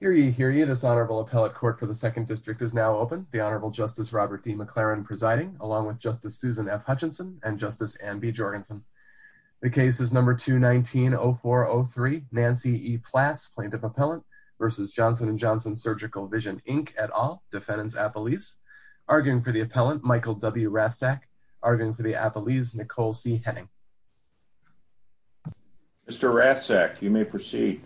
Hear ye, hear ye. This Honorable Appellate Court for the 2nd District is now open. The Honorable Justice Robert D. McLaren presiding, along with Justice Susan F. Hutchinson and Justice Anne B. Jorgensen. The case is No. 219-0403, Nancy E. Plass, Plaintiff Appellant v. Johnson and Johnson Surgical Vision, Inc., et al., Defendant's Appellees. Arguing for the Appellant, Michael W. Rasek. Arguing for the Appellees, Nicole C. Henning. Mr. Rasek, you may proceed.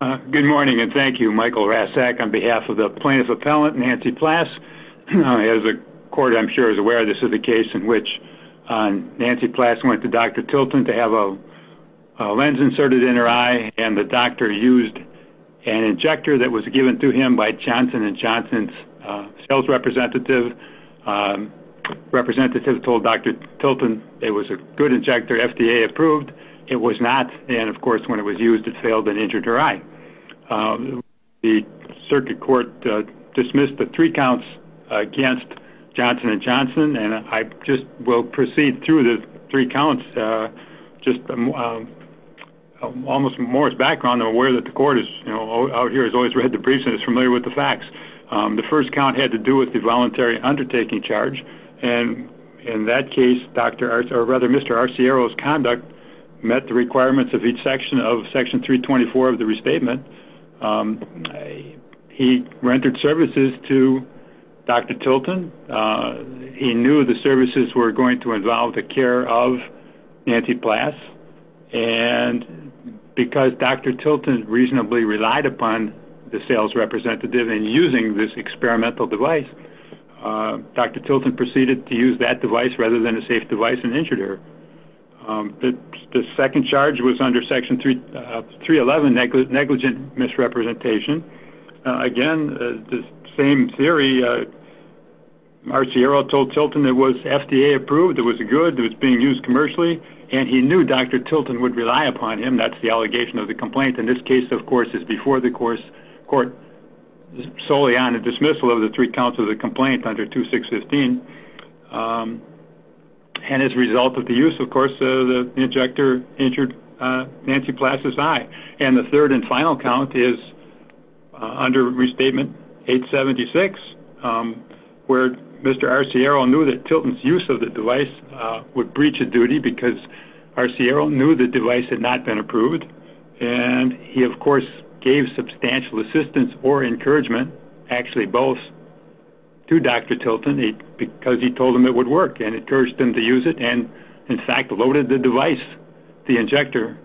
Good morning, and thank you, Michael Rasek, on behalf of the Plaintiff Appellant, Nancy Plass. As the Court, I'm sure, is aware of this is the case in which Nancy Plass went to Dr. Tilton to have a lens inserted in her eye, and the doctor used an injector that was given to him by Johnson and Johnson's sales representative. The representative told Dr. Tilton it was a good injector, FDA approved. It was not, and of course, when it was used, it failed and injured her eye. The Circuit Court dismissed the three counts against Johnson and Johnson, and I just will proceed through the three counts. Just almost from Morris' background, I'm aware that the Court out here has always read the briefs and is familiar with the facts. The first count had to do with the voluntary undertaking charge, and in that case, Mr. Arciero's conduct met the requirements of Section 324 of the restatement. He rendered services to Dr. Tilton. He knew the services were going to involve the care of Nancy Plass, and because Dr. Tilton reasonably relied upon the sales representative in using this experimental device, Dr. Tilton proceeded to use that device rather than a safe device and injured her. The second charge was under Section 311, negligent misrepresentation. Again, the same theory. Arciero told Tilton it was FDA approved, it was good, it was being used commercially, and he knew Dr. Tilton would rely upon him. That's the allegation of the complaint. In this case, of course, it's before the Court, solely on the dismissal of the three counts of the complaint under 2615. And as a result of the use, of course, the injector injured Nancy Plass' eye. And the third and final count is under Restatement 876, where Mr. Arciero knew that Tilton's use of the device would breach a duty because Arciero knew the device had not been approved. And he, of course, gave substantial assistance or encouragement, actually both, to Dr. Tilton because he told him it would work and encouraged him to use it and, in fact, loaded the device, the injector,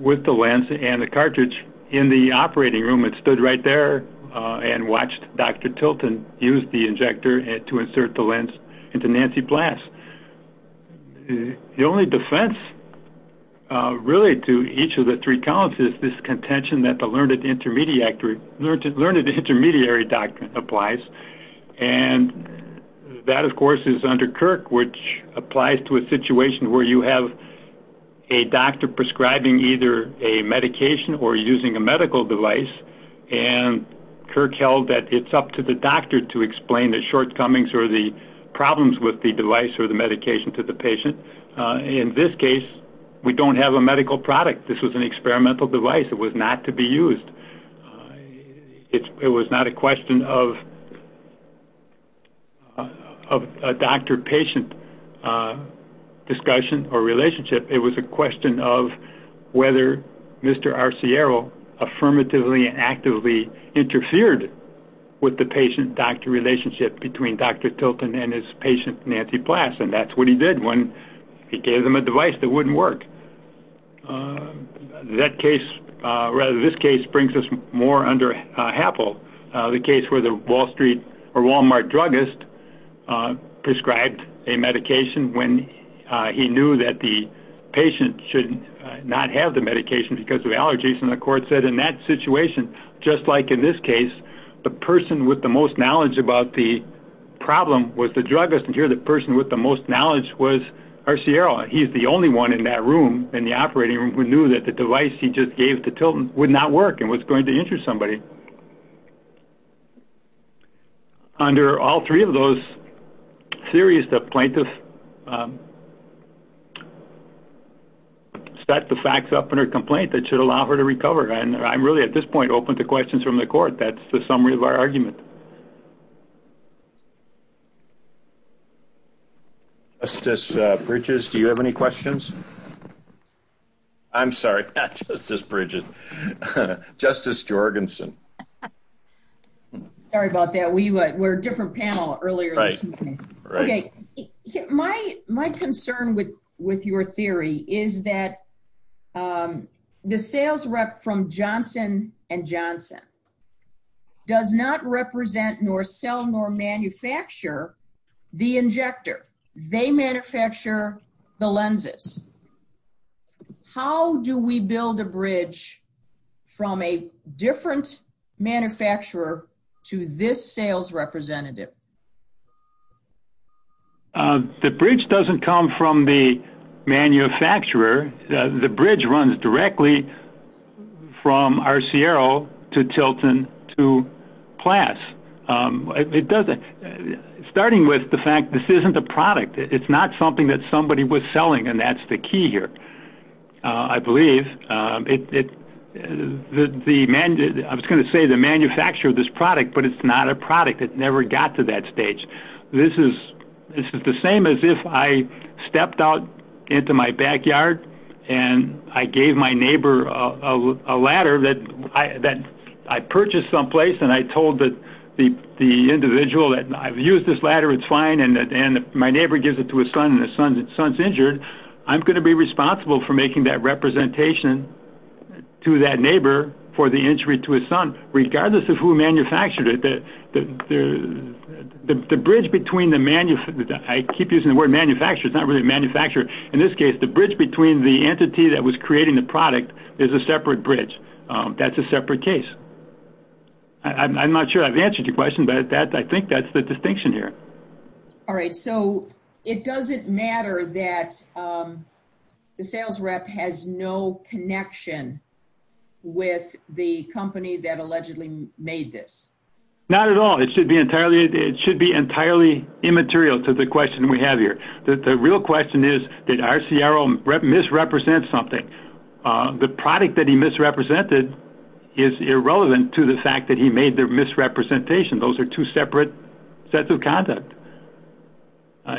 with the lens and the cartridge in the operating room. It stood right there and watched Dr. Tilton use the injector to insert the lens into Nancy Plass. The only defense, really, to each of the three counts is this contention that the learned intermediary doctrine applies. And that, of course, is under Kirk, which applies to a situation where you have a doctor prescribing either a medication or using a medical device. And Kirk held that it's up to the doctor to explain the shortcomings or the problems with the device or the medication to the patient. In this case, we don't have a medical product. This was an experimental device. It was not to be used. It was not a question of a doctor-patient discussion or relationship. It was a question of whether Mr. Arciero affirmatively and actively interfered with the patient-doctor relationship between Dr. Tilton and his patient, Nancy Plass. And that's what he did when he gave them a device that wouldn't work. That case, rather this case, brings us more under Happel, the case where the Wall Street or Walmart druggist prescribed a medication when he knew that the patient should not have the medication because of allergies. And the court said in that situation, just like in this case, the person with the most knowledge about the problem was the druggist, and here the person with the most knowledge was Arciero. He's the only one in that room, in the operating room, who knew that the device he just gave to Tilton would not work and was going to injure somebody. Under all three of those theories, the plaintiff set the facts up in her complaint that should allow her to recover. And I'm really, at this point, open to questions from the court. That's the summary of our argument. Thank you. Justice Bridges, do you have any questions? I'm sorry, not Justice Bridges. Justice Jorgensen. Sorry about that. We're a different panel earlier this evening. Right. My concern with your theory is that the sales rep from Johnson & Johnson does not represent, nor sell, nor manufacture the injector. They manufacture the lenses. How do we build a bridge from a different manufacturer to this sales representative? The bridge doesn't come from the manufacturer. The bridge runs directly from Arciero to Tilton to Plass. Starting with the fact this isn't a product. It's not something that somebody was selling, and that's the key here, I believe. I was going to say the manufacturer of this product, but it's not a product. It never got to that stage. This is the same as if I stepped out into my backyard and I gave my neighbor a ladder that I purchased someplace, and I told the individual that I've used this ladder, it's fine, and my neighbor gives it to his son and his son's injured, I'm going to be responsible for making that representation to that neighbor for the injury to his son, regardless of who manufactured it. The bridge between the manufacturer, I keep using the word manufacturer. It's not really a manufacturer. In this case, the bridge between the entity that was creating the product is a separate bridge. That's a separate case. I'm not sure I've answered your question, but I think that's the distinction here. All right. So it doesn't matter that the sales rep has no connection with the company that allegedly made this? Not at all. It should be entirely immaterial to the question we have here. The real question is, did Arciero misrepresent something? The product that he misrepresented is irrelevant to the fact that he made the misrepresentation. Those are two separate sets of conduct.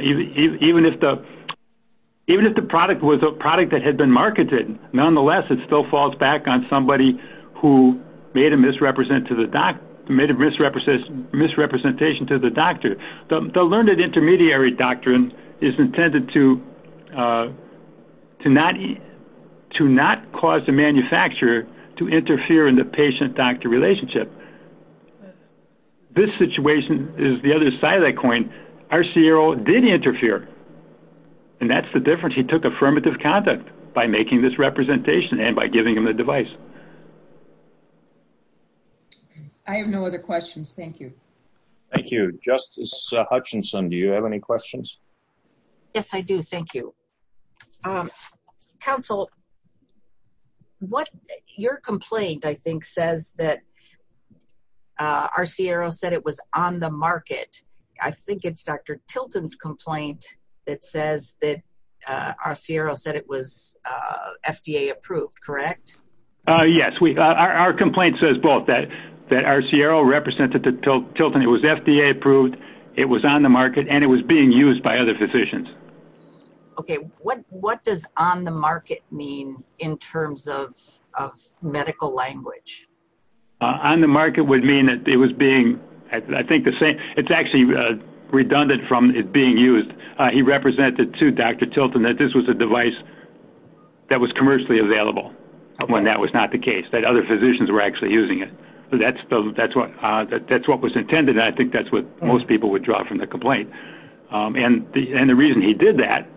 Even if the product was a product that had been marketed, nonetheless, it still falls back on somebody who made a misrepresentation to the doctor. The learned intermediary doctrine is intended to not cause the manufacturer to interfere in the patient-doctor relationship. This situation is the other side of that coin. Arciero did interfere, and that's the difference. He took affirmative conduct by making this representation and by giving him the device. I have no other questions. Thank you. Thank you. Justice Hutchinson, do you have any questions? Yes, I do. Thank you. Counsel, your complaint, I think, says that Arciero said it was on the market. I think it's Dr. Tilton's complaint that says that Arciero said it was FDA approved, correct? Yes. Our complaint says both, that Arciero represented to Tilton it was FDA approved, it was on the market, and it was being used by other physicians. Okay. What does on the market mean in terms of medical language? On the market would mean that it was being, I think, the same. It's actually redundant from it being used. He represented to Dr. Tilton that this was a device that was commercially available when that was not the case, that other physicians were actually using it. That's what was intended, and I think that's what most people would draw from the complaint. And the reason he did that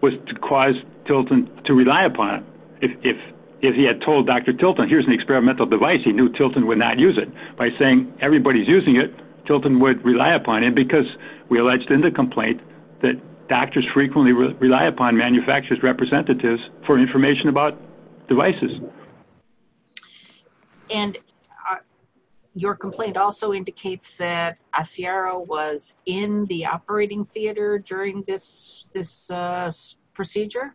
was to cause Tilton to rely upon it. If he had told Dr. Tilton, here's an experimental device, he knew Tilton would not use it. By saying everybody's using it, Tilton would rely upon it because we alleged in the complaint that doctors frequently rely upon manufacturer's representatives for information about devices. And your complaint also indicates that Arciero was in the operating theater during this procedure?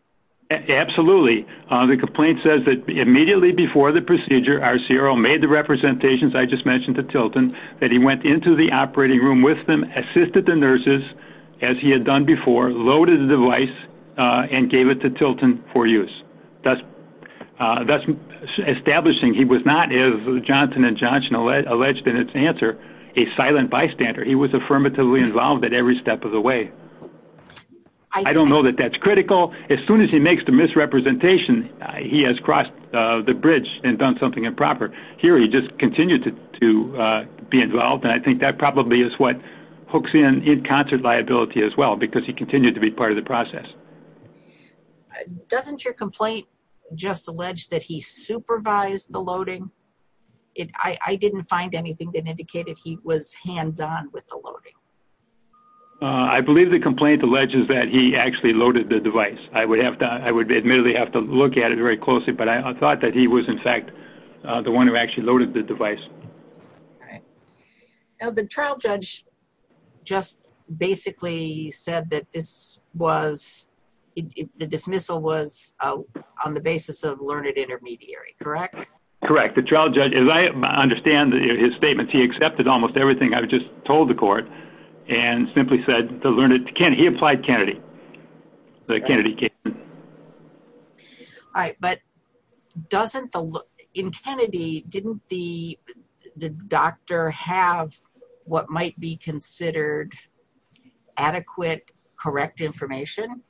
Absolutely. The complaint says that immediately before the procedure, Arciero made the representations. I just mentioned to Tilton that he went into the operating room with them, assisted the nurses, as he had done before, loaded the device, and gave it to Tilton for use, thus establishing he was not, as Johnson & Johnson alleged in its answer, a silent bystander. He was affirmatively involved at every step of the way. I don't know that that's critical. As soon as he makes the misrepresentation, he has crossed the bridge and done something improper. Here, he just continued to be involved, and I think that probably is what hooks in concert liability as well, because he continued to be part of the process. Doesn't your complaint just allege that he supervised the loading? I didn't find anything that indicated he was hands-on with the loading. I believe the complaint alleges that he actually loaded the device. I would admittedly have to look at it very closely, but I thought that he was, in fact, the one who actually loaded the device. The trial judge just basically said that the dismissal was on the basis of learned intermediary, correct? Correct. The trial judge, as I understand his statements, he accepted almost everything I just told the court and simply said to learn it. He applied Kennedy. The Kennedy case. All right, but in Kennedy, didn't the doctor have what might be considered adequate, correct information,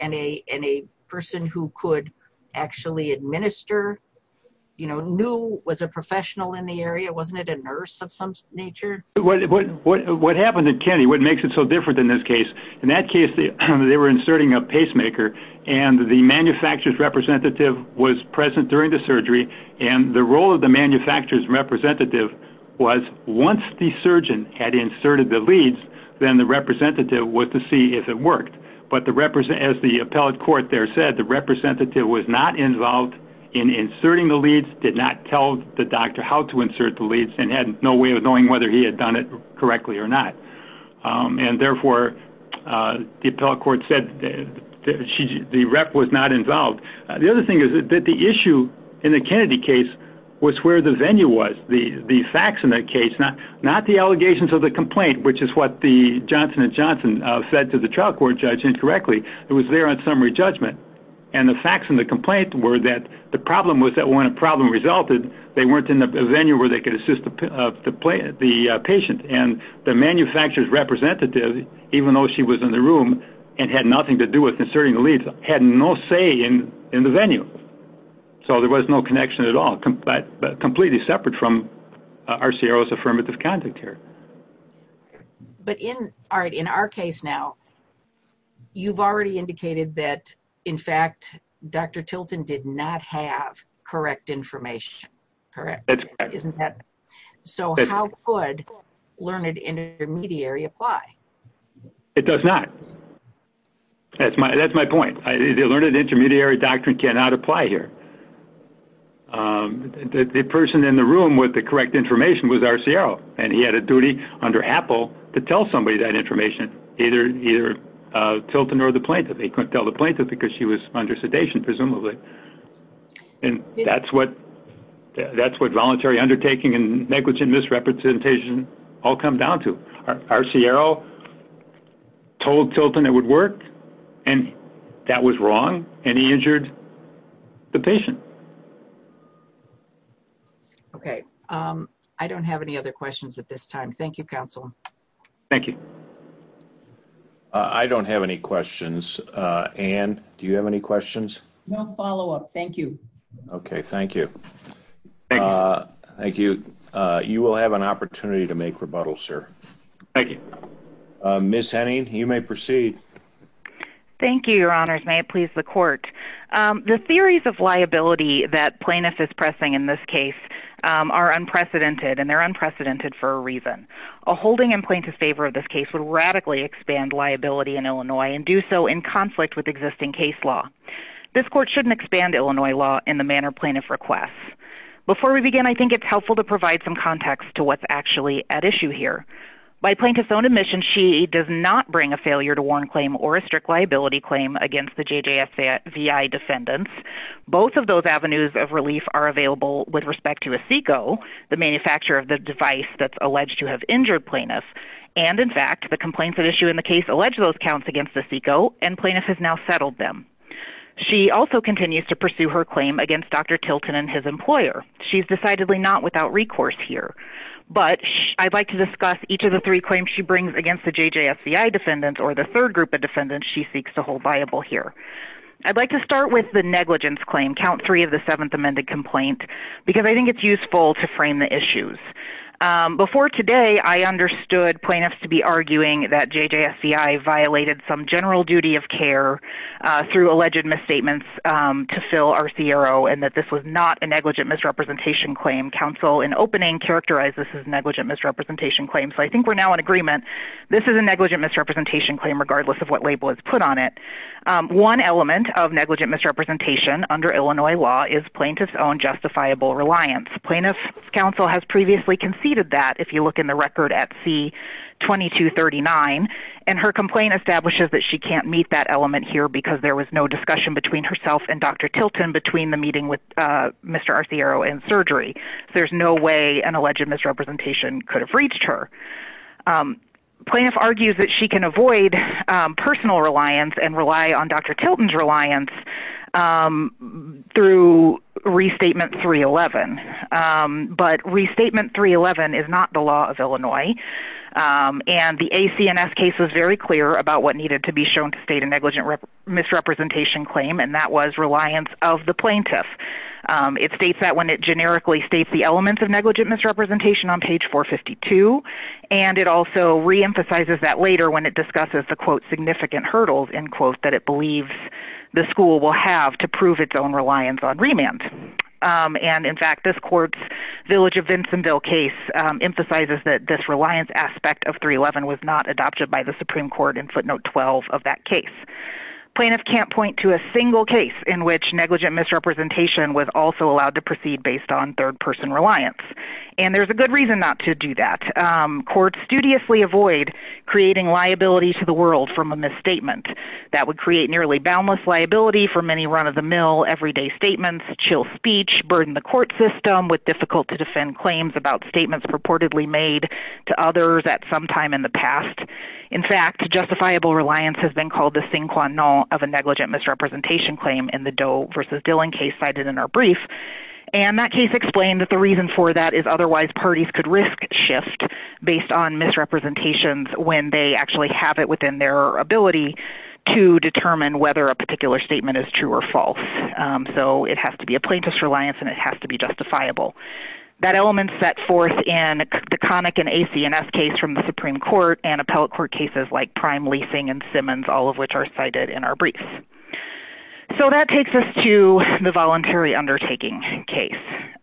and a person who could actually administer, you know, knew was a professional in the area? Wasn't it a nurse of some nature? What happened in Kennedy, what makes it so different in this case? In that case, they were inserting a pacemaker, and the manufacturer's representative was present during the surgery, and the role of the manufacturer's representative was once the surgeon had inserted the leads, then the representative was to see if it worked. But as the appellate court there said, the representative was not involved in inserting the leads, did not tell the doctor how to insert the leads, and had no way of knowing whether he had done it correctly or not. And therefore, the appellate court said the rep was not involved. The other thing is that the issue in the Kennedy case was where the venue was, the facts in that case, not the allegations of the complaint, which is what the Johnson & Johnson said to the trial court judge incorrectly. It was there on summary judgment. And the facts in the complaint were that the problem was that when a problem resulted, they weren't in the venue where they could assist the patient, and the manufacturer's representative, even though she was in the room and had nothing to do with inserting the leads, had no say in the venue. So there was no connection at all, completely separate from RCRO's affirmative conduct here. But in our case now, you've already indicated that, in fact, Dr. Tilton did not have correct information, correct? That's correct. So how could learned intermediary apply? It does not. That's my point. The learned intermediary doctrine cannot apply here. The person in the room with the correct information was RCRO, and he had a duty under Apple to tell somebody that information, either Tilton or the plaintiff. He couldn't tell the plaintiff because she was under sedation, presumably. And that's what voluntary undertaking and negligent misrepresentation all come down to. RCRO told Tilton it would work, and that was wrong, and he injured the patient. Okay. I don't have any other questions at this time. Thank you, counsel. Thank you. I don't have any questions. Ann, do you have any questions? No follow-up. Thank you. Okay. Thank you. Thank you. You will have an opportunity to make rebuttals, sir. Thank you. Ms. Henning, you may proceed. Thank you, Your Honors. May it please the Court. The theories of liability that plaintiff is pressing in this case are unprecedented, and they're unprecedented for a reason. A holding in plaintiff's favor of this case would radically expand liability in Illinois and do so in conflict with existing case law. This Court shouldn't expand Illinois law in the manner plaintiff requests. Before we begin, I think it's helpful to provide some context to what's actually at issue here. By plaintiff's own admission, she does not bring a failure to warn claim or a strict liability claim against the JJSVI defendants. Both of those avenues of relief are available with respect to a SECO, the manufacturer of the device that's alleged to have injured plaintiff. And, in fact, the complaints at issue in the case allege those counts against the SECO, and plaintiff has now settled them. She also continues to pursue her claim against Dr. Tilton and his employer. She's decidedly not without recourse here, but I'd like to discuss each of the three claims she brings against the JJSVI defendants or the third group of defendants she seeks to hold viable here. I'd like to start with the negligence claim, Count 3 of the Seventh Amended Complaint, because I think it's useful to frame the issues. Before today, I understood plaintiffs to be arguing that JJSVI violated some general duty of care through alleged misstatements to fill our CRO, and that this was not a negligent misrepresentation claim. Counsel, in opening, characterized this as negligent misrepresentation claim, so I think we're now in agreement. This is a negligent misrepresentation claim, regardless of what label is put on it. One element of negligent misrepresentation under Illinois law is plaintiff's own justifiable reliance. Plaintiff's counsel has previously conceded that, if you look in the record at C-2239, and her complaint establishes that she can't meet that element here because there was no discussion between herself and Dr. Tilton between the meeting with Mr. Arciero and surgery. There's no way an alleged misrepresentation could have reached her. Plaintiff argues that she can avoid personal reliance and rely on Dr. Tilton's reliance through Restatement 311, but Restatement 311 is not the law of Illinois, and the ACNS case was very clear about what needed to be shown to state a negligent misrepresentation claim, and that was reliance of the plaintiff. It states that when it generically states the elements of negligent misrepresentation on page 452, and it also reemphasizes that later when it discusses the, quote, significant hurdles, end quote, that it believes the school will have to prove its own reliance on remand. And in fact, this court's Village of Vinsonville case emphasizes that this reliance aspect of 311 was not adopted by the Supreme Court in footnote 12 of that case. Plaintiff can't point to a single case in which negligent misrepresentation was also allowed to proceed based on third-person reliance, and there's a good reason not to do that. Courts studiously avoid creating liability to the world from a misstatement. That would create nearly boundless liability for many run-of-the-mill, everyday statements, chill speech, burden the court system with difficult-to-defend claims about statements purportedly made to others at some time in the past. In fact, justifiable reliance has been called the sin qua non of a negligent misrepresentation claim in the Doe v. Dillon case cited in our brief, and that case explained that the reason for that is otherwise parties could risk shift based on misrepresentations when they actually have it within their ability to determine whether a particular statement is true or false. So it has to be a plaintiff's reliance, and it has to be justifiable. That element set forth in the Connick and ACNS case from the Supreme Court and appellate court cases like Prime, Leasing, and Simmons, all of which are cited in our brief. So that takes us to the voluntary undertaking case.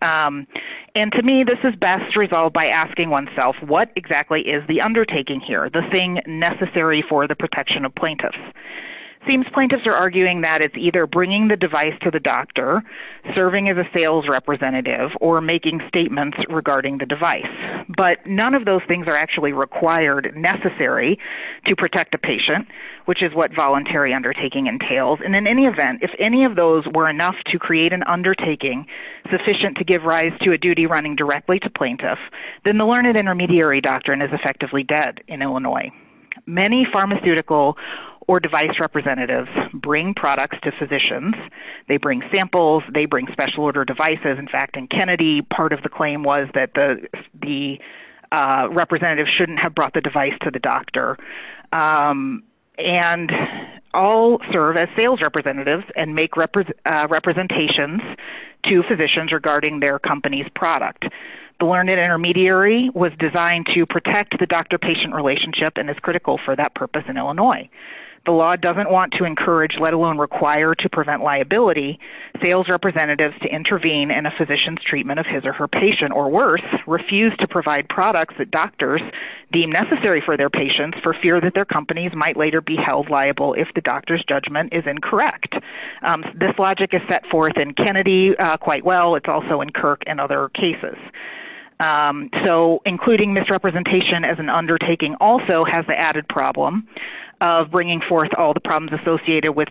And to me, this is best resolved by asking oneself, what exactly is the undertaking here, the thing necessary for the protection of plaintiffs? It seems plaintiffs are arguing that it's either bringing the device to the doctor, serving as a sales representative, or making statements regarding the device. But none of those things are actually required, necessary, to protect a patient, which is what voluntary undertaking entails. And in any event, if any of those were enough to create an undertaking sufficient to give rise to a duty running directly to plaintiffs, then the learned intermediary doctrine is effectively dead in Illinois. Many pharmaceutical or device representatives bring products to physicians. They bring samples. They bring special order devices. In fact, in Kennedy, part of the claim was that the representative shouldn't have brought the device to the doctor. And all serve as sales representatives and make representations to physicians regarding their company's product. The learned intermediary was designed to protect the doctor-patient relationship and is critical for that purpose in Illinois. The law doesn't want to encourage, let alone require to prevent liability, sales representatives to intervene in a physician's treatment of his or her patient, or worse, refuse to provide products that doctors deem necessary for their patients for fear that their companies might later be held liable if the doctor's judgment is incorrect. This logic is set forth in Kennedy quite well. It's also in Kirk and other cases. So including misrepresentation as an undertaking also has the added problem of bringing forth all the problems associated with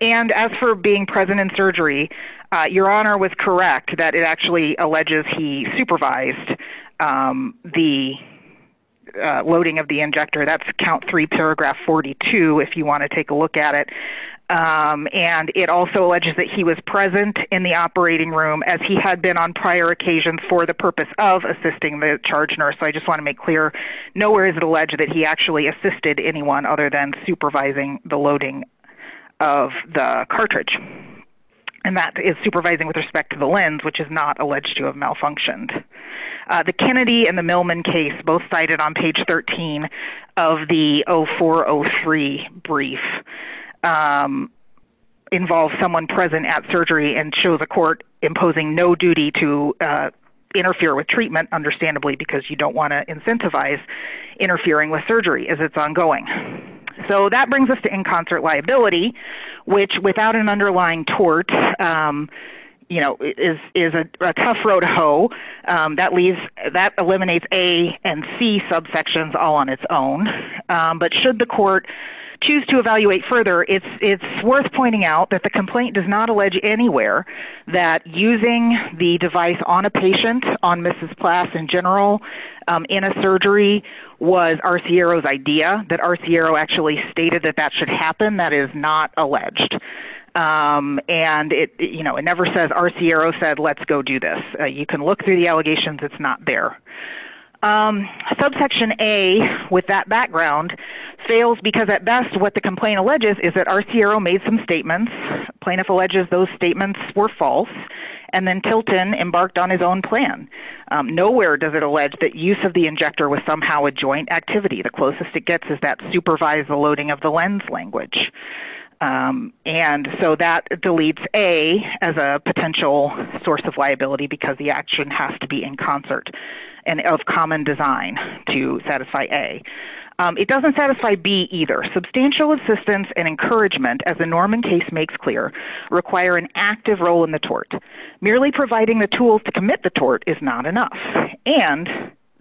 And as for being present in surgery, Your Honor was correct that it actually alleges he supervised the loading of the injector. That's count three, paragraph 42, if you want to take a look at it. And it also alleges that he was present in the operating room as he had been on prior occasions for the purpose of assisting the charge nurse. So I just want to make clear, nowhere is it alleged that he actually assisted anyone other than supervising the loading of the cartridge. And that is supervising with respect to the lens, which is not alleged to have malfunctioned. The Kennedy and the Millman case, both cited on page 13 of the 0403 brief, involve someone present at surgery and show the court imposing no duty to interfere with treatment, understandably because you don't want to incentivize interfering with surgery as it's ongoing. So that brings us to in concert liability, which without an underlying tort, you know, is a tough road to hoe. That eliminates A and C subsections all on its own. But should the court choose to evaluate further, it's worth pointing out that the complaint does not allege anywhere that using the device on a patient, on Mrs. Plass in general, in a surgery was Arciero's idea, that Arciero actually stated that that should happen. That is not alleged. And, you know, it never says Arciero said, let's go do this. You can look through the allegations. It's not there. Subsection A, with that background, fails because at best what the complaint alleges is that Arciero made some statements. Plaintiff alleges those statements were false. And then Tilton embarked on his own plan. Nowhere does it allege that use of the injector was somehow a joint activity. The closest it gets is that supervised loading of the lens language. And so that deletes A as a potential source of liability because the action has to be in concert and of common design to satisfy A. It doesn't satisfy B either. Substantial assistance and encouragement, as the Norman case makes clear, require an active role in the tort. Merely providing the tools to commit the tort is not enough. And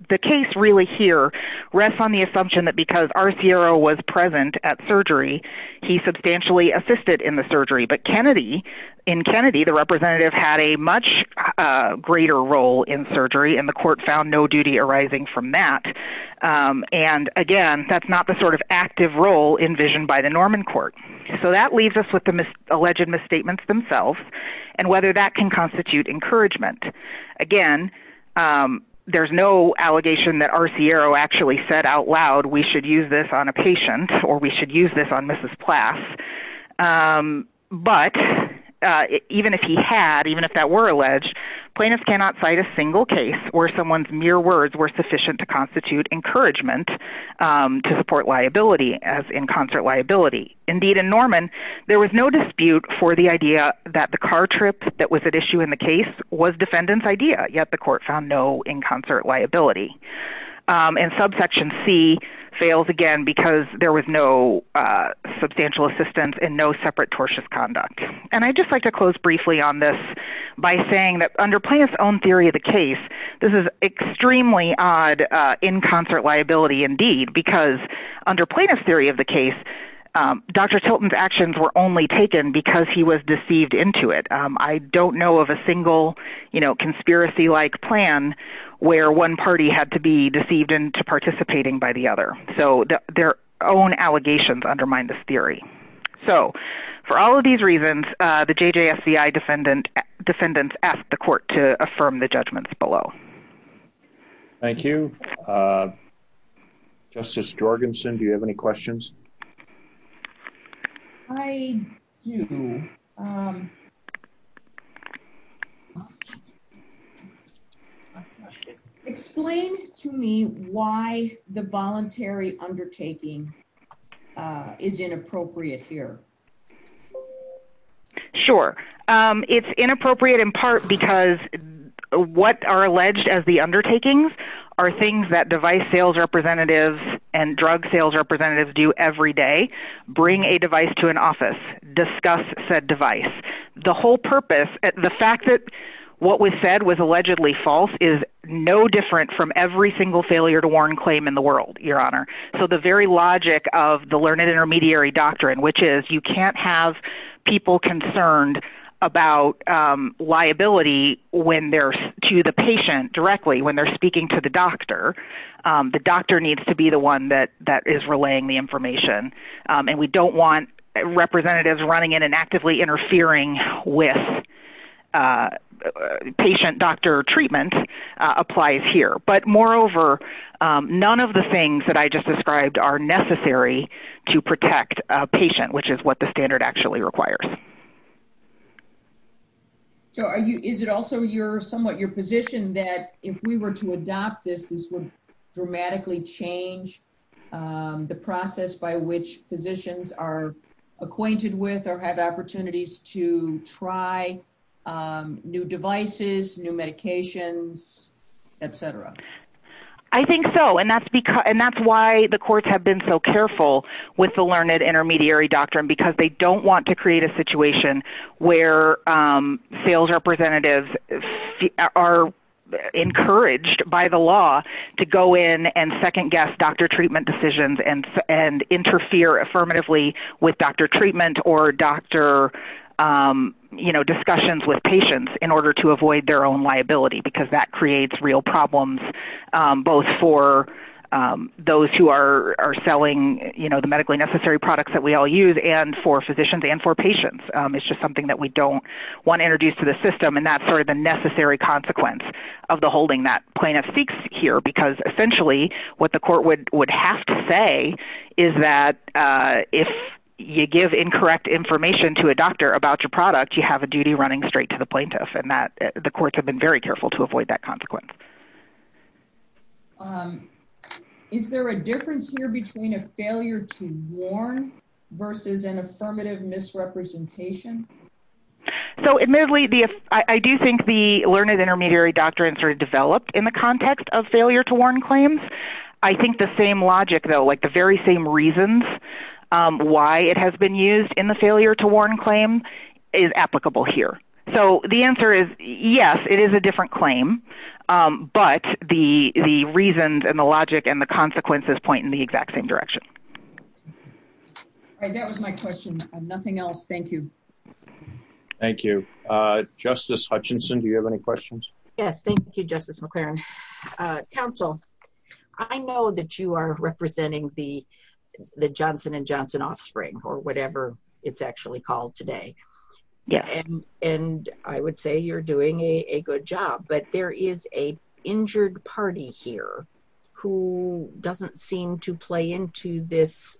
the case really here rests on the assumption that because Arciero was present at surgery, he substantially assisted in the surgery. But Kennedy, in Kennedy, the representative had a much greater role in surgery, and the court found no duty arising from that. And, again, that's not the sort of active role envisioned by the Norman court. So that leaves us with the alleged misstatements themselves and whether that can constitute encouragement. Again, there's no allegation that Arciero actually said out loud, we should use this on a patient or we should use this on Mrs. Plath. But even if he had, even if that were alleged, plaintiffs cannot cite a single case where someone's mere words were sufficient to constitute encouragement to support liability as in concert liability. Indeed, in Norman, there was no dispute for the idea that the car trip that was at issue in the case was defendant's idea, yet the court found no in concert liability. And subsection C fails again because there was no substantial assistance and no separate tortious conduct. And I'd just like to close briefly on this by saying that under plaintiff's own theory of the case, this is extremely odd in concert liability indeed, because under plaintiff's theory of the case, Dr. Tilton's actions were only taken because he was deceived into it. I don't know of a single conspiracy-like plan where one party had to be deceived into participating by the other. So their own allegations undermine this theory. So for all of these reasons, the JJSCI defendants ask the court to affirm the judgments below. Thank you. Justice Jorgensen, do you have any questions? I do. Explain to me why the voluntary undertaking is inappropriate here. Sure. It's inappropriate in part because what are alleged as the undertakings are things that device sales representatives and drug sales representatives do every day, bring a device to an office, discuss said device. The whole purpose, the fact that what was said was allegedly false is no different from every single failure to warn claim in the world, Your Honor. So the very logic of the learned intermediary doctrine, which is you can't have people concerned about liability when they're to the patient directly, when they're speaking to the doctor, the doctor needs to be the one that is relaying the information. And we don't want representatives running in and actively interfering with patient doctor treatment applies here. But moreover, none of the things that I just described are necessary to protect a patient, which is what the standard actually requires. So is it also somewhat your position that if we were to adopt this, this would dramatically change the process by which physicians are acquainted with or have opportunities to try new devices, new medications, et cetera? I think so. And that's why the courts have been so careful with the learned intermediary doctrine, because they don't want to create a situation where sales representatives are encouraged by the law to go in and second guess doctor treatment decisions and interfere affirmatively with doctor treatment or doctor discussions with patients in order to avoid their own liability, because that creates real problems both for those who are selling the medically necessary products that we all use and for physicians and for patients. It's just something that we don't want to introduce to the system. And that's sort of the necessary consequence of the holding that plaintiff seeks here, because essentially what the court would have to say is that if you give incorrect information to a doctor about your product, you have a duty running straight to the plaintiff and that the courts have been very careful to avoid that consequence. Is there a difference here between a failure to warn versus an affirmative misrepresentation? So admittedly, I do think the learned intermediary doctrines are developed in the context of failure to warn claims. I think the same logic, though, like the very same reasons why it has been used in the failure to warn claim is applicable here. So the answer is, yes, it is a different claim, but the reasons and the logic and the consequences point in the exact same direction. That was my question. Nothing else. Thank you. Thank you. Justice Hutchinson, do you have any questions? Yes. Thank you, Justice McLaren. Counsel, I know that you are representing the Johnson & Johnson offspring or whatever it's actually called today. And I would say you're doing a good job. But there is a injured party here who doesn't seem to play into this,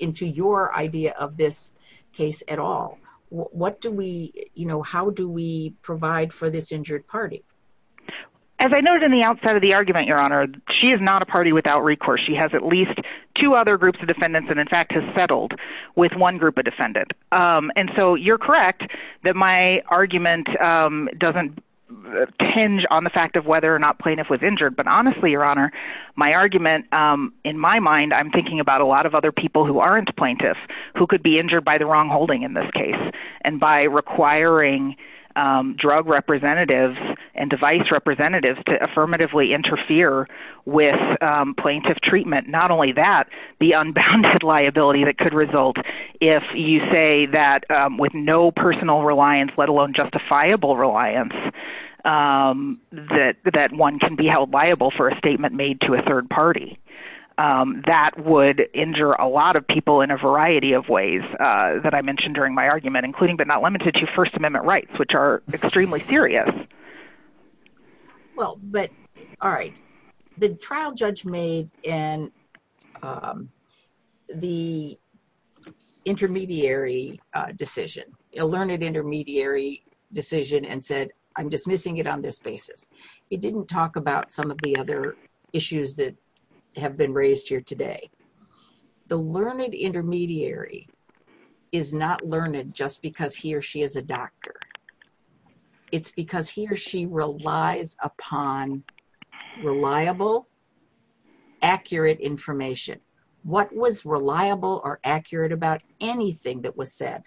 into your idea of this case at all. What do we you know, how do we provide for this injured party? As I noted in the outset of the argument, Your Honor, she is not a party without recourse. She has at least two other groups of defendants and in fact has settled with one group of defendants. And so you're correct that my argument doesn't hinge on the fact of whether or not plaintiff was injured. But honestly, Your Honor, my argument in my mind, I'm thinking about a lot of other people who aren't plaintiffs who could be injured by the wrong holding in this case. And by requiring drug representatives and device representatives to affirmatively interfere with plaintiff treatment. Not only that, the unbounded liability that could result if you say that with no personal reliance, let alone justifiable reliance, that one can be held liable for a statement made to a third party. That would injure a lot of people in a variety of ways that I mentioned during my argument, including but not limited to First Amendment rights, which are extremely serious. Well, but all right. The trial judge made in the intermediary decision, a learned intermediary decision and said, I'm dismissing it on this basis. It didn't talk about some of the other issues that have been raised here today. The learned intermediary is not learned just because he or she is a doctor. It's because he or she relies upon reliable, accurate information. What was reliable or accurate about anything that was said?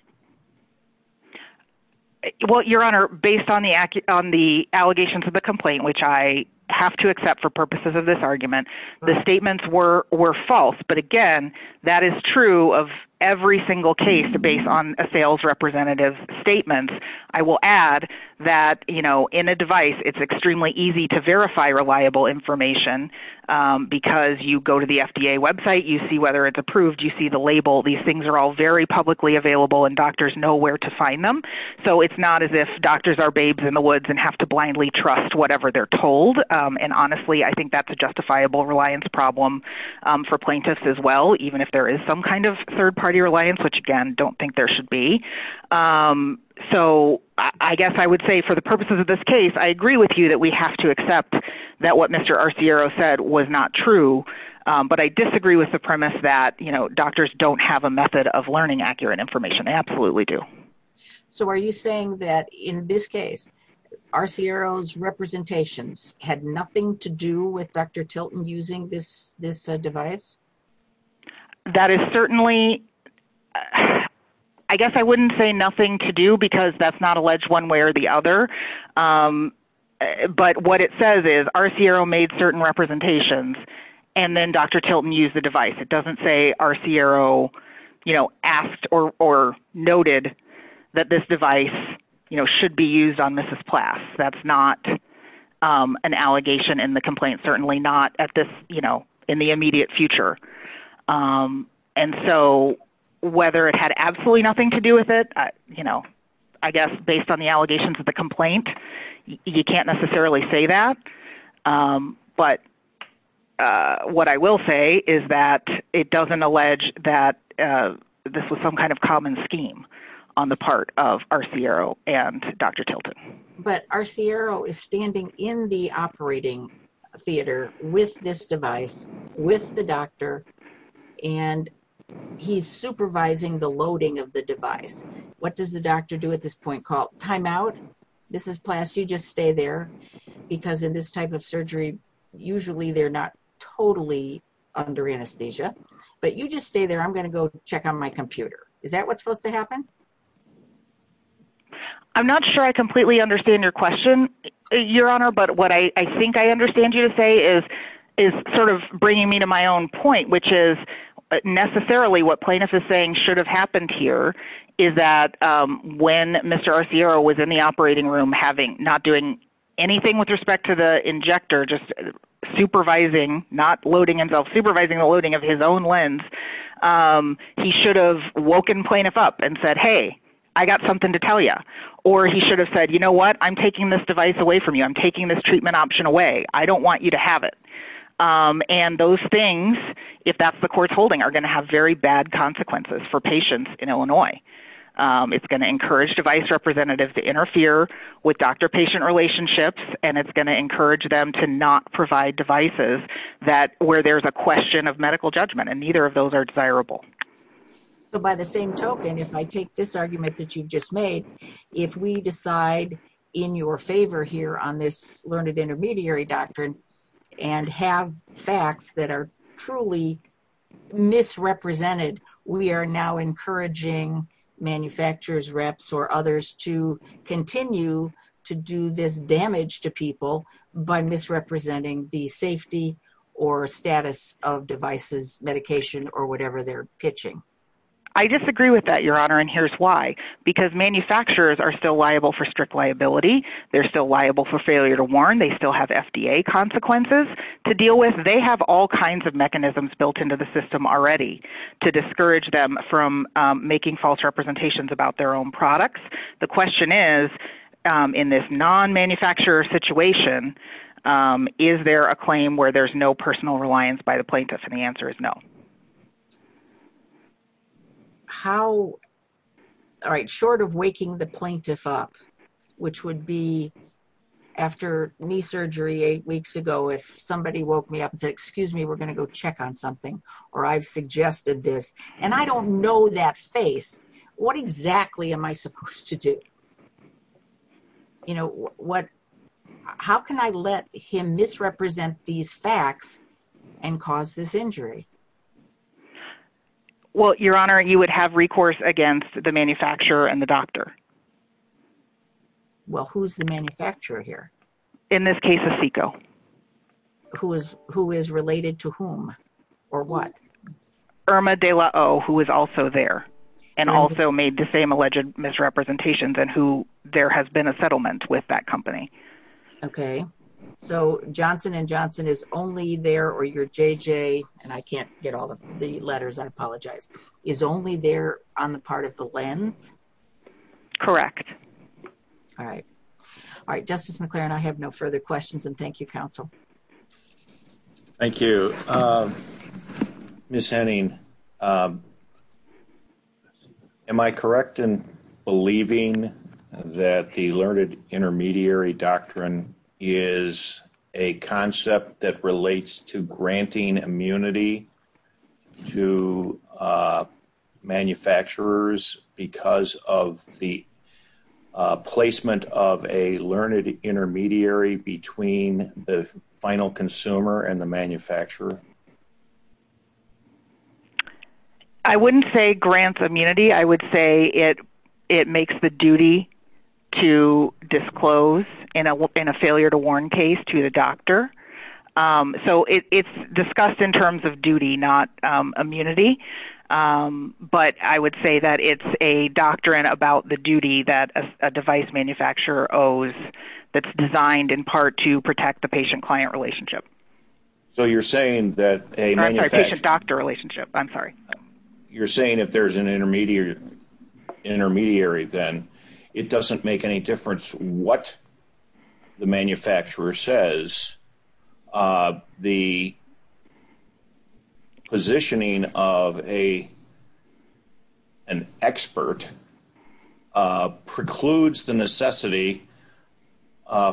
Well, Your Honor, based on the allegations of the complaint, which I have to accept for purposes of this argument, the statements were false. But again, that is true of every single case based on a sales representative's statements. I will add that in a device, it's extremely easy to verify reliable information because you go to the FDA website. You see whether it's approved. You see the label. These things are all very publicly available and doctors know where to find them. So it's not as if doctors are babes in the woods and have to blindly trust whatever they're told. And honestly, I think that's a justifiable reliance problem for plaintiffs as well, even if there is some kind of third party reliance, which again, don't think there should be. So I guess I would say for the purposes of this case, I agree with you that we have to accept that what Mr. Arciero said was not true. But I disagree with the premise that doctors don't have a method of learning accurate information. They absolutely do. So are you saying that in this case, Arciero's representations had nothing to do with Dr. Tilton using this device? That is certainly, I guess I wouldn't say nothing to do because that's not alleged one way or the other. But what it says is Arciero made certain representations and then Dr. Tilton used the device. It doesn't say Arciero asked or noted that this device should be used on Mrs. Plass. That's not an allegation in the complaint, certainly not in the immediate future. And so whether it had absolutely nothing to do with it, I guess based on the allegations of the complaint, you can't necessarily say that. But what I will say is that it doesn't allege that this was some kind of common scheme on the part of Arciero and Dr. Tilton. But Arciero is standing in the operating theater with this device, with the doctor, and he's supervising the loading of the device. What does the doctor do at this point? It's called timeout. Mrs. Plass, you just stay there because in this type of surgery, usually they're not totally under anesthesia. But you just stay there. I'm going to go check on my computer. Is that what's supposed to happen? I'm not sure I completely understand your question, Your Honor, but what I think I understand you to say is sort of bringing me to my own point, which is necessarily what plaintiff is saying should have happened here is that when Mr. Arciero was in the operating room, not doing anything with respect to the injector, just supervising, not loading himself, supervising the loading of his own lens, he should have woken plaintiff up and said, hey, I got something to tell you. Or he should have said, you know what, I'm taking this device away from you. I'm taking this treatment option away. I don't want you to have it. And those things, if that's the court's holding, are going to have very bad consequences for patients in Illinois. It's going to encourage device representatives to interfere with doctor-patient relationships, and it's going to encourage them to not provide devices where there's a question of medical judgment. And neither of those are desirable. So by the same token, if I take this argument that you've just made, if we decide in your favor here on this learned intermediary doctrine and have facts that are truly misrepresented, we are now encouraging manufacturers, reps, or others to continue to do this damage to people by misrepresenting the safety or status of devices, medication, or whatever they're pitching. I disagree with that, Your Honor, and here's why. Because manufacturers are still liable for strict liability. They're still liable for failure to warn. They still have FDA consequences to deal with. They have all kinds of mechanisms built into the system already to discourage them from making false representations about their own products. The question is, in this non-manufacturer situation, is there a claim where there's no personal reliance by the plaintiff? And the answer is no. Short of waking the plaintiff up, which would be after knee surgery eight weeks ago, if somebody woke me up and said, excuse me, we're going to go check on something, or I've suggested this, and I don't know that face, what exactly am I supposed to do? How can I let him misrepresent these facts and cause this injury? Well, Your Honor, you would have recourse against the manufacturer and the doctor. Well, who's the manufacturer here? In this case, it's SECO. Who is related to whom, or what? Irma de la O, who is also there, and also made the same alleged misrepresentations, and who there has been a settlement with that company. Okay. So Johnson & Johnson is only there, or your JJ, and I can't get all the letters, I apologize, is only there on the part of the lens? Correct. All right. All right, Justice McClaren, I have no further questions, and thank you, counsel. Thank you. Ms. Henning, am I correct in believing that the learned intermediary doctrine is a concept that relates to granting immunity to manufacturers because of the placement of a learned intermediary between the final consumer and the manufacturer? I wouldn't say grants immunity. I would say it makes the duty to disclose in a failure-to-warn case to the doctor. So it's discussed in terms of duty, not immunity, but I would say that it's a doctrine about the duty that a device manufacturer owes that's designed in part to protect the patient-client relationship. So you're saying that a manufacturer… I'm sorry, patient-doctor relationship. I'm sorry. You're saying if there's an intermediary, then it doesn't make any difference what the manufacturer says. The positioning of an expert precludes the necessity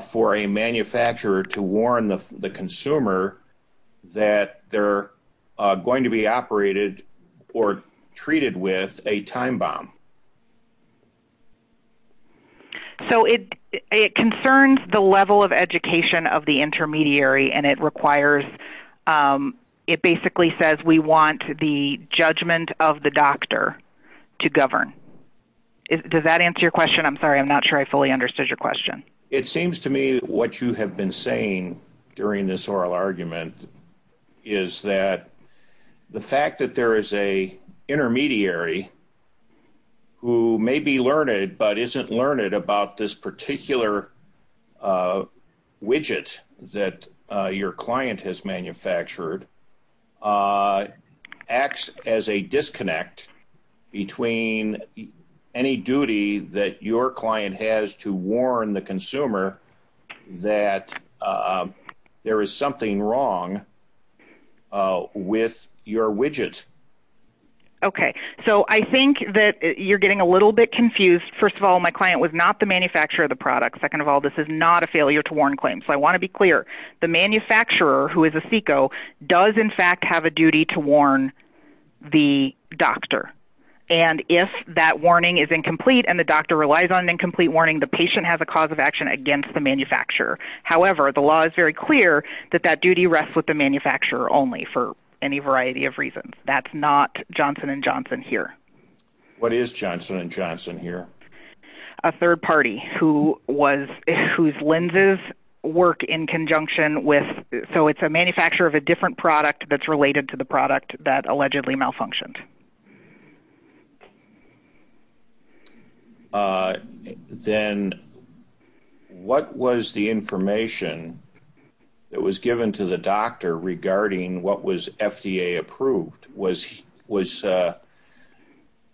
for a manufacturer to warn the consumer that they're going to be operated or treated with a time bomb. So it concerns the level of education of the intermediary, and it requires…it basically says we want the judgment of the doctor to govern. Does that answer your question? I'm sorry. I'm not sure I fully understood your question. It seems to me what you have been saying during this oral argument is that the fact that there is an intermediary who may be learned, but isn't learned about this particular widget that your client has manufactured, acts as a disconnect between any duty that your client has to warn the consumer that there is something wrong with your widget. Okay. So I think that you're getting a little bit confused. First of all, my client was not the manufacturer of the product. Second of all, this is not a failure to warn claim. So I want to be clear. The manufacturer, who is a SECO, does in fact have a duty to warn the doctor. And if that warning is incomplete and the doctor relies on an incomplete warning, the patient has a cause of action against the manufacturer. However, the law is very clear that that duty rests with the manufacturer only for any variety of reasons. That's not Johnson & Johnson here. What is Johnson & Johnson here? A third party whose lenses work in conjunction with…so it's a manufacturer of a different product that's related to the product that allegedly malfunctioned. Then what was the information that was given to the doctor regarding what was FDA approved? Was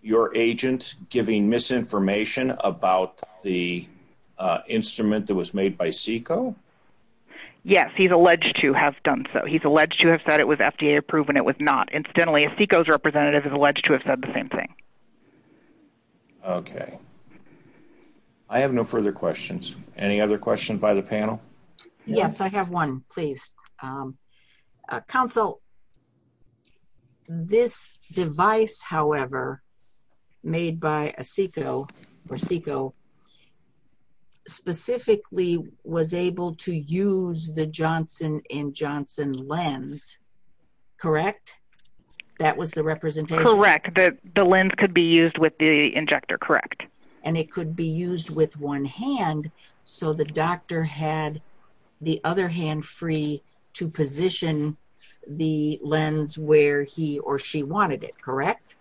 your agent giving misinformation about the instrument that was made by SECO? Yes, he's alleged to have done so. He's alleged to have said it was FDA approved and it was not. Incidentally, a SECO's representative is alleged to have said the same thing. Okay. I have no further questions. Any other questions by the panel? Yes, I have one, please. Counsel, this device, however, made by a SECO specifically was able to use the Johnson & Johnson lens, correct? That was the representation? Correct. The lens could be used with the injector, correct. And it could be used with one hand, so the doctor had the other hand free to position the lens where he or she wanted it, correct?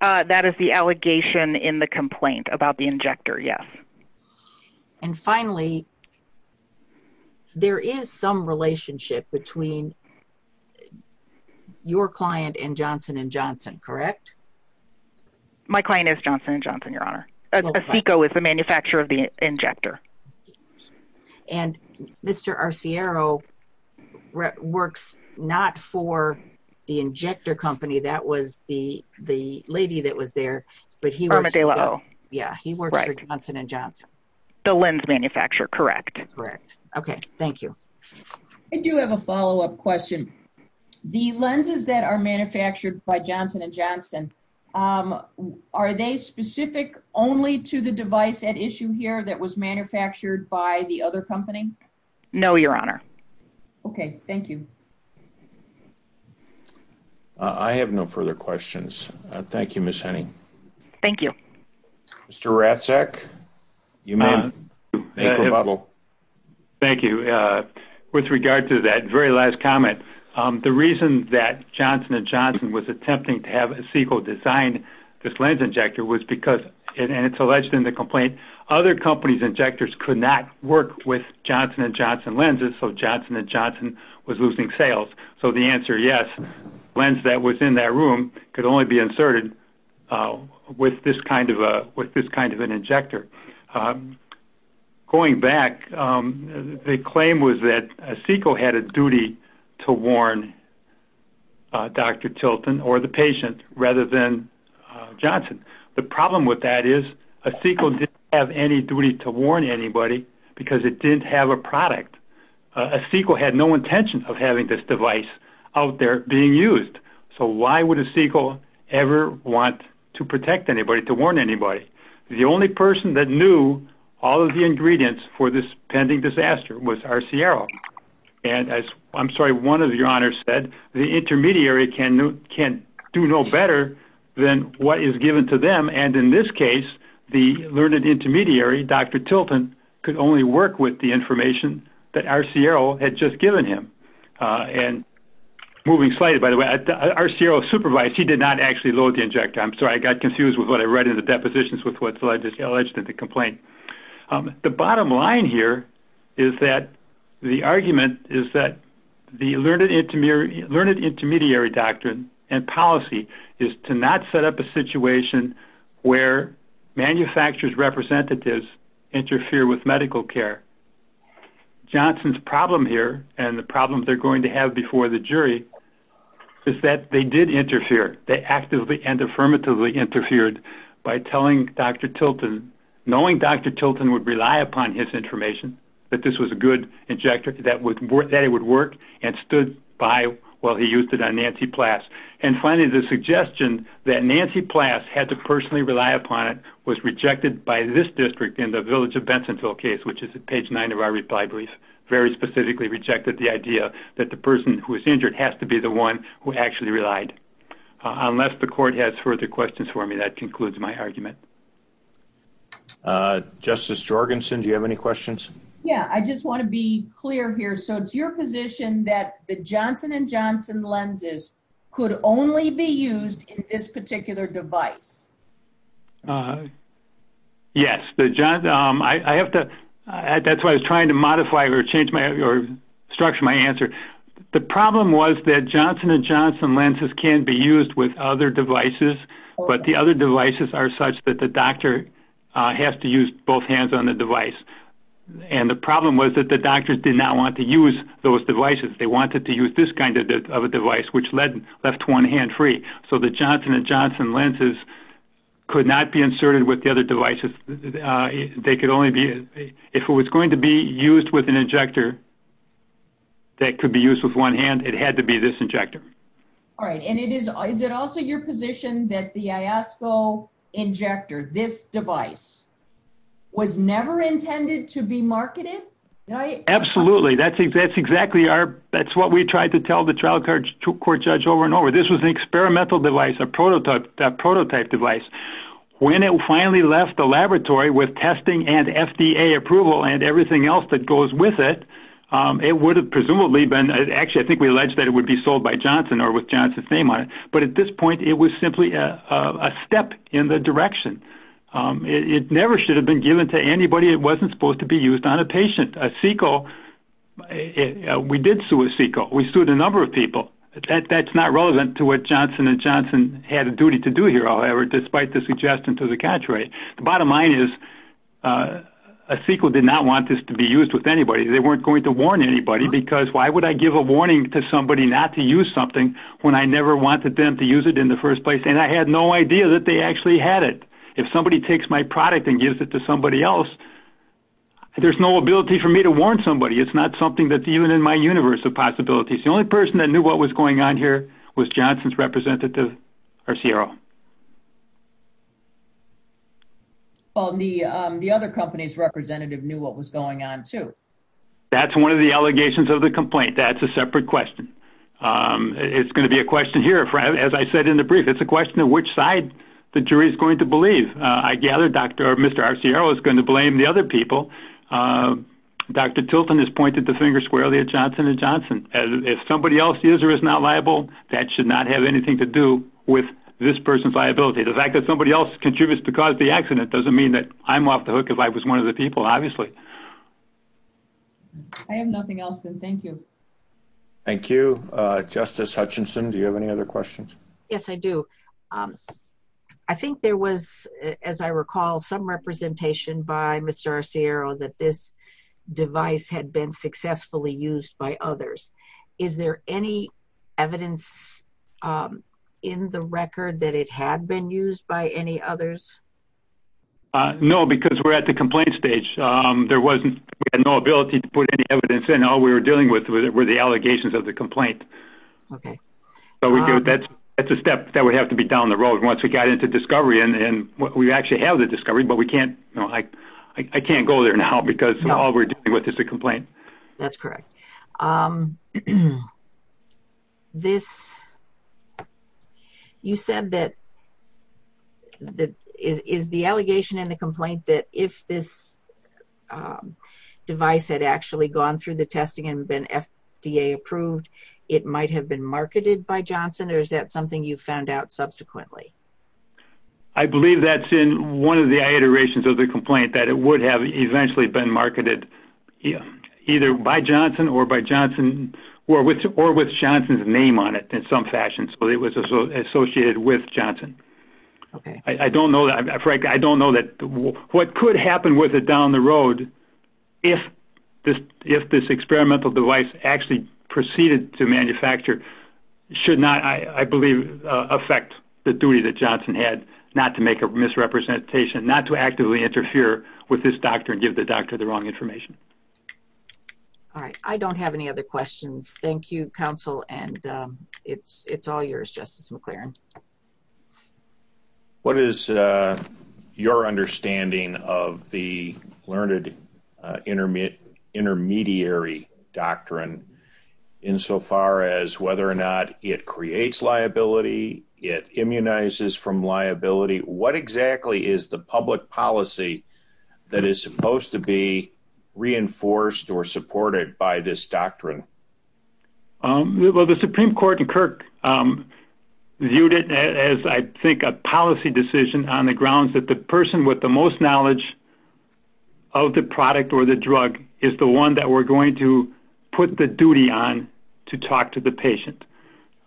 That is the allegation in the complaint about the injector, yes. And finally, there is some relationship between your client and Johnson & Johnson, correct? My client is Johnson & Johnson, Your Honor. A SECO is the manufacturer of the injector. And Mr. Arciero works not for the injector company, that was the lady that was there, but he works for Johnson & Johnson? The lens manufacturer, correct. Okay, thank you. I do have a follow-up question. The lenses that are manufactured by Johnson & Johnson, are they specific only to the device at issue here that was manufactured by the other company? No, Your Honor. Okay, thank you. I have no further questions. Thank you, Ms. Henning. Thank you. Mr. Ratsek, you may have a rebuttal. Thank you. With regard to that very last comment, the reason that Johnson & Johnson was attempting to have a SECO design this lens injector was because, and it's alleged in the complaint, other companies' injectors could not work with Johnson & Johnson lenses, so Johnson & Johnson was losing sales. So the answer, yes, lens that was in that room could only be inserted with this kind of an injector. Going back, the claim was that a SECO had a duty to warn Dr. Tilton or the patient rather than Johnson. The problem with that is a SECO didn't have any duty to warn anybody because it didn't have a product. A SECO had no intention of having this device out there being used. So why would a SECO ever want to protect anybody, to warn anybody? The only person that knew all of the ingredients for this pending disaster was Arciero. And as, I'm sorry, one of your honors said, the intermediary can do no better than what is given to them. And in this case, the learned intermediary, Dr. Tilton, could only work with the information that Arciero had just given him. And moving slightly, by the way, Arciero supervised. He did not actually load the injector. I'm sorry, I got confused with what I read in the depositions with what's alleged in the complaint. The bottom line here is that the argument is that the learned intermediary doctrine and policy is to not set up a situation where manufacturer's representatives interfere with medical care. Johnson's problem here, and the problem they're going to have before the jury, is that they did interfere. They actively and affirmatively interfered by telling Dr. Tilton, knowing Dr. Tilton would rely upon his information, that this was a good injector, that it would work, and stood by while he used it on Nancy Plass. And finally, the suggestion that Nancy Plass had to personally rely upon it was rejected by this district in the Village of Bensonville case, which is at page 9 of our reply brief. Very specifically rejected the idea that the person who was injured has to be the one who actually relied. Unless the court has further questions for me, that concludes my argument. Justice Jorgensen, do you have any questions? Yeah, I just want to be clear here. So it's your position that the Johnson & Johnson lenses could only be used in this particular device? Yes. That's why I was trying to modify or structure my answer. The problem was that Johnson & Johnson lenses can be used with other devices, but the other devices are such that the doctor has to use both hands on the device. And the problem was that the doctors did not want to use those devices. They wanted to use this kind of a device, which left one hand free. So the Johnson & Johnson lenses could not be inserted with the other devices. If it was going to be used with an injector that could be used with one hand, it had to be this injector. All right. And is it also your position that the Iosco injector, this device, was never intended to be marketed? Absolutely. That's exactly what we tried to tell the trial court judge over and over. This was an experimental device, a prototype device. When it finally left the laboratory with testing and FDA approval and everything else that goes with it, it would have presumably been, actually I think we alleged that it would be sold by Johnson or with Johnson's name on it. But at this point, it was simply a step in the direction. It never should have been given to anybody. It wasn't supposed to be used on a patient. We did sue a CEQA. We sued a number of people. That's not relevant to what Johnson & Johnson had a duty to do here, however, despite the suggestion to the contrary. The bottom line is a CEQA did not want this to be used with anybody. They weren't going to warn anybody because why would I give a warning to somebody not to use something when I never wanted them to use it in the first place and I had no idea that they actually had it. If somebody takes my product and gives it to somebody else, there's no ability for me to warn somebody. It's not something that's even in my universe of possibilities. The only person that knew what was going on here was Johnson's representative, Arciero. The other company's representative knew what was going on, too. That's one of the allegations of the complaint. That's a separate question. It's going to be a question here, as I said in the brief. It's a question of which side the jury is going to believe. I gather Mr. Arciero is going to blame the other people. Dr. Tilton has pointed the finger squarely at Johnson & Johnson. If somebody else is or is not liable, that should not have anything to do with this person's liability. The fact that somebody else contributes to cause the accident doesn't mean that I'm off the hook if I was one of the people, obviously. I have nothing else, then. Thank you. Thank you. Justice Hutchinson, do you have any other questions? Yes, I do. I think there was, as I recall, some representation by Mr. Arciero that this device had been successfully used by others. Is there any evidence in the record that it had been used by any others? No, because we're at the complaint stage. We had no ability to put any evidence in. All we were dealing with were the allegations of the complaint. That's a step that would have to be down the road once we got into discovery. We actually have the discovery, but I can't go there now because all we're dealing with is the complaint. That's correct. Is the allegation in the complaint that if this device had actually gone through the testing and been FDA approved, it might have been marketed by Johnson, or is that something you found out subsequently? I believe that's in one of the iterations of the complaint, that it would have eventually been marketed either by Johnson or with Johnson's name on it in some fashion, so it was associated with Johnson. I don't know. Frankly, I don't know. What could happen with it down the road if this experimental device actually proceeded to manufacture should not, I believe, affect the duty that Johnson had not to make a misrepresentation, not to actively interfere with this doctor and give the doctor the wrong information. All right. I don't have any other questions. Thank you, counsel, and it's all yours, Justice McLaren. What is your understanding of the Learned Intermediary Doctrine insofar as whether or not it creates liability, it immunizes from liability? What exactly is the public policy that is supposed to be reinforced or supported by this doctrine? Well, the Supreme Court in Kirk viewed it as, I think, a policy decision on the grounds that the person with the most knowledge of the product or the drug is the one that we're going to put the duty on to talk to the patient.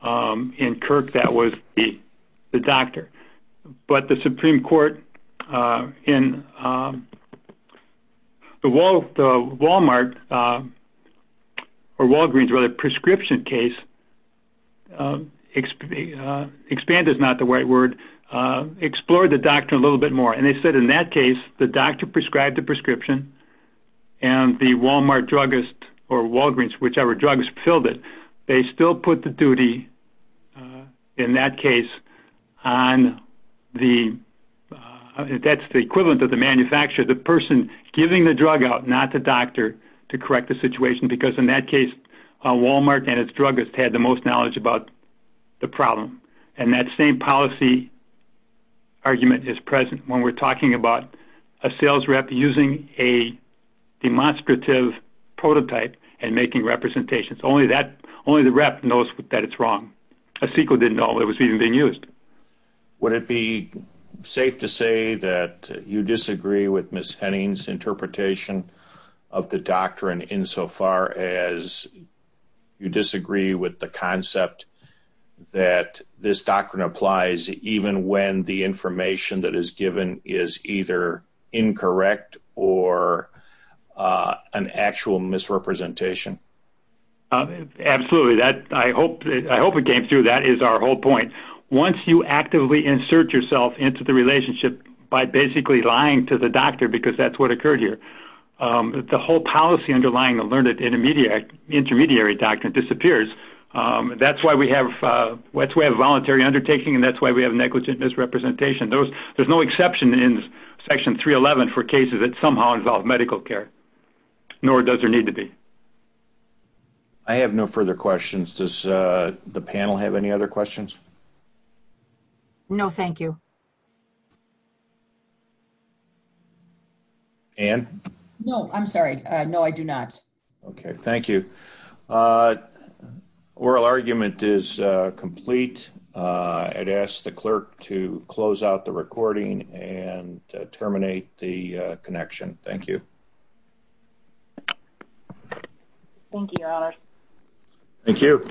In Kirk, that was the doctor, but the Supreme Court in the Walmart or Walgreens, rather, prescription case, expand is not the right word, explored the doctrine a little bit more, and they said in that case, the doctor prescribed the prescription, and the Walmart druggist or Walgreens, whichever druggist filled it, they still put the duty in that case on the, that's the equivalent of the manufacturer, the person giving the drug out, not the doctor, to correct the situation, because in that case, Walmart and its druggist had the most knowledge about the problem. And that same policy argument is present when we're talking about a sales rep using a demonstrative prototype and making representations. Only the rep knows that it's wrong. A CEQA didn't know it was even being used. Would it be safe to say that you disagree with Ms. Henning's interpretation of the doctrine insofar as you disagree with the concept that this doctrine applies even when the information that is given is either incorrect or an actual misrepresentation? Absolutely. I hope it came through. That is our whole point. Once you actively insert yourself into the relationship by basically lying to the doctor because that's what occurred here, the whole policy underlying the learned intermediary doctrine disappears. That's why we have voluntary undertaking and that's why we have negligent misrepresentation. There's no exception in Section 311 for cases that somehow involve medical care, nor does there need to be. I have no further questions. Does the panel have any other questions? No, thank you. Anne? No, I'm sorry. No, I do not. Okay, thank you. Oral argument is complete. I'd ask the clerk to close out the recording and terminate the connection. Thank you. Thank you, Your Honor. Thank you.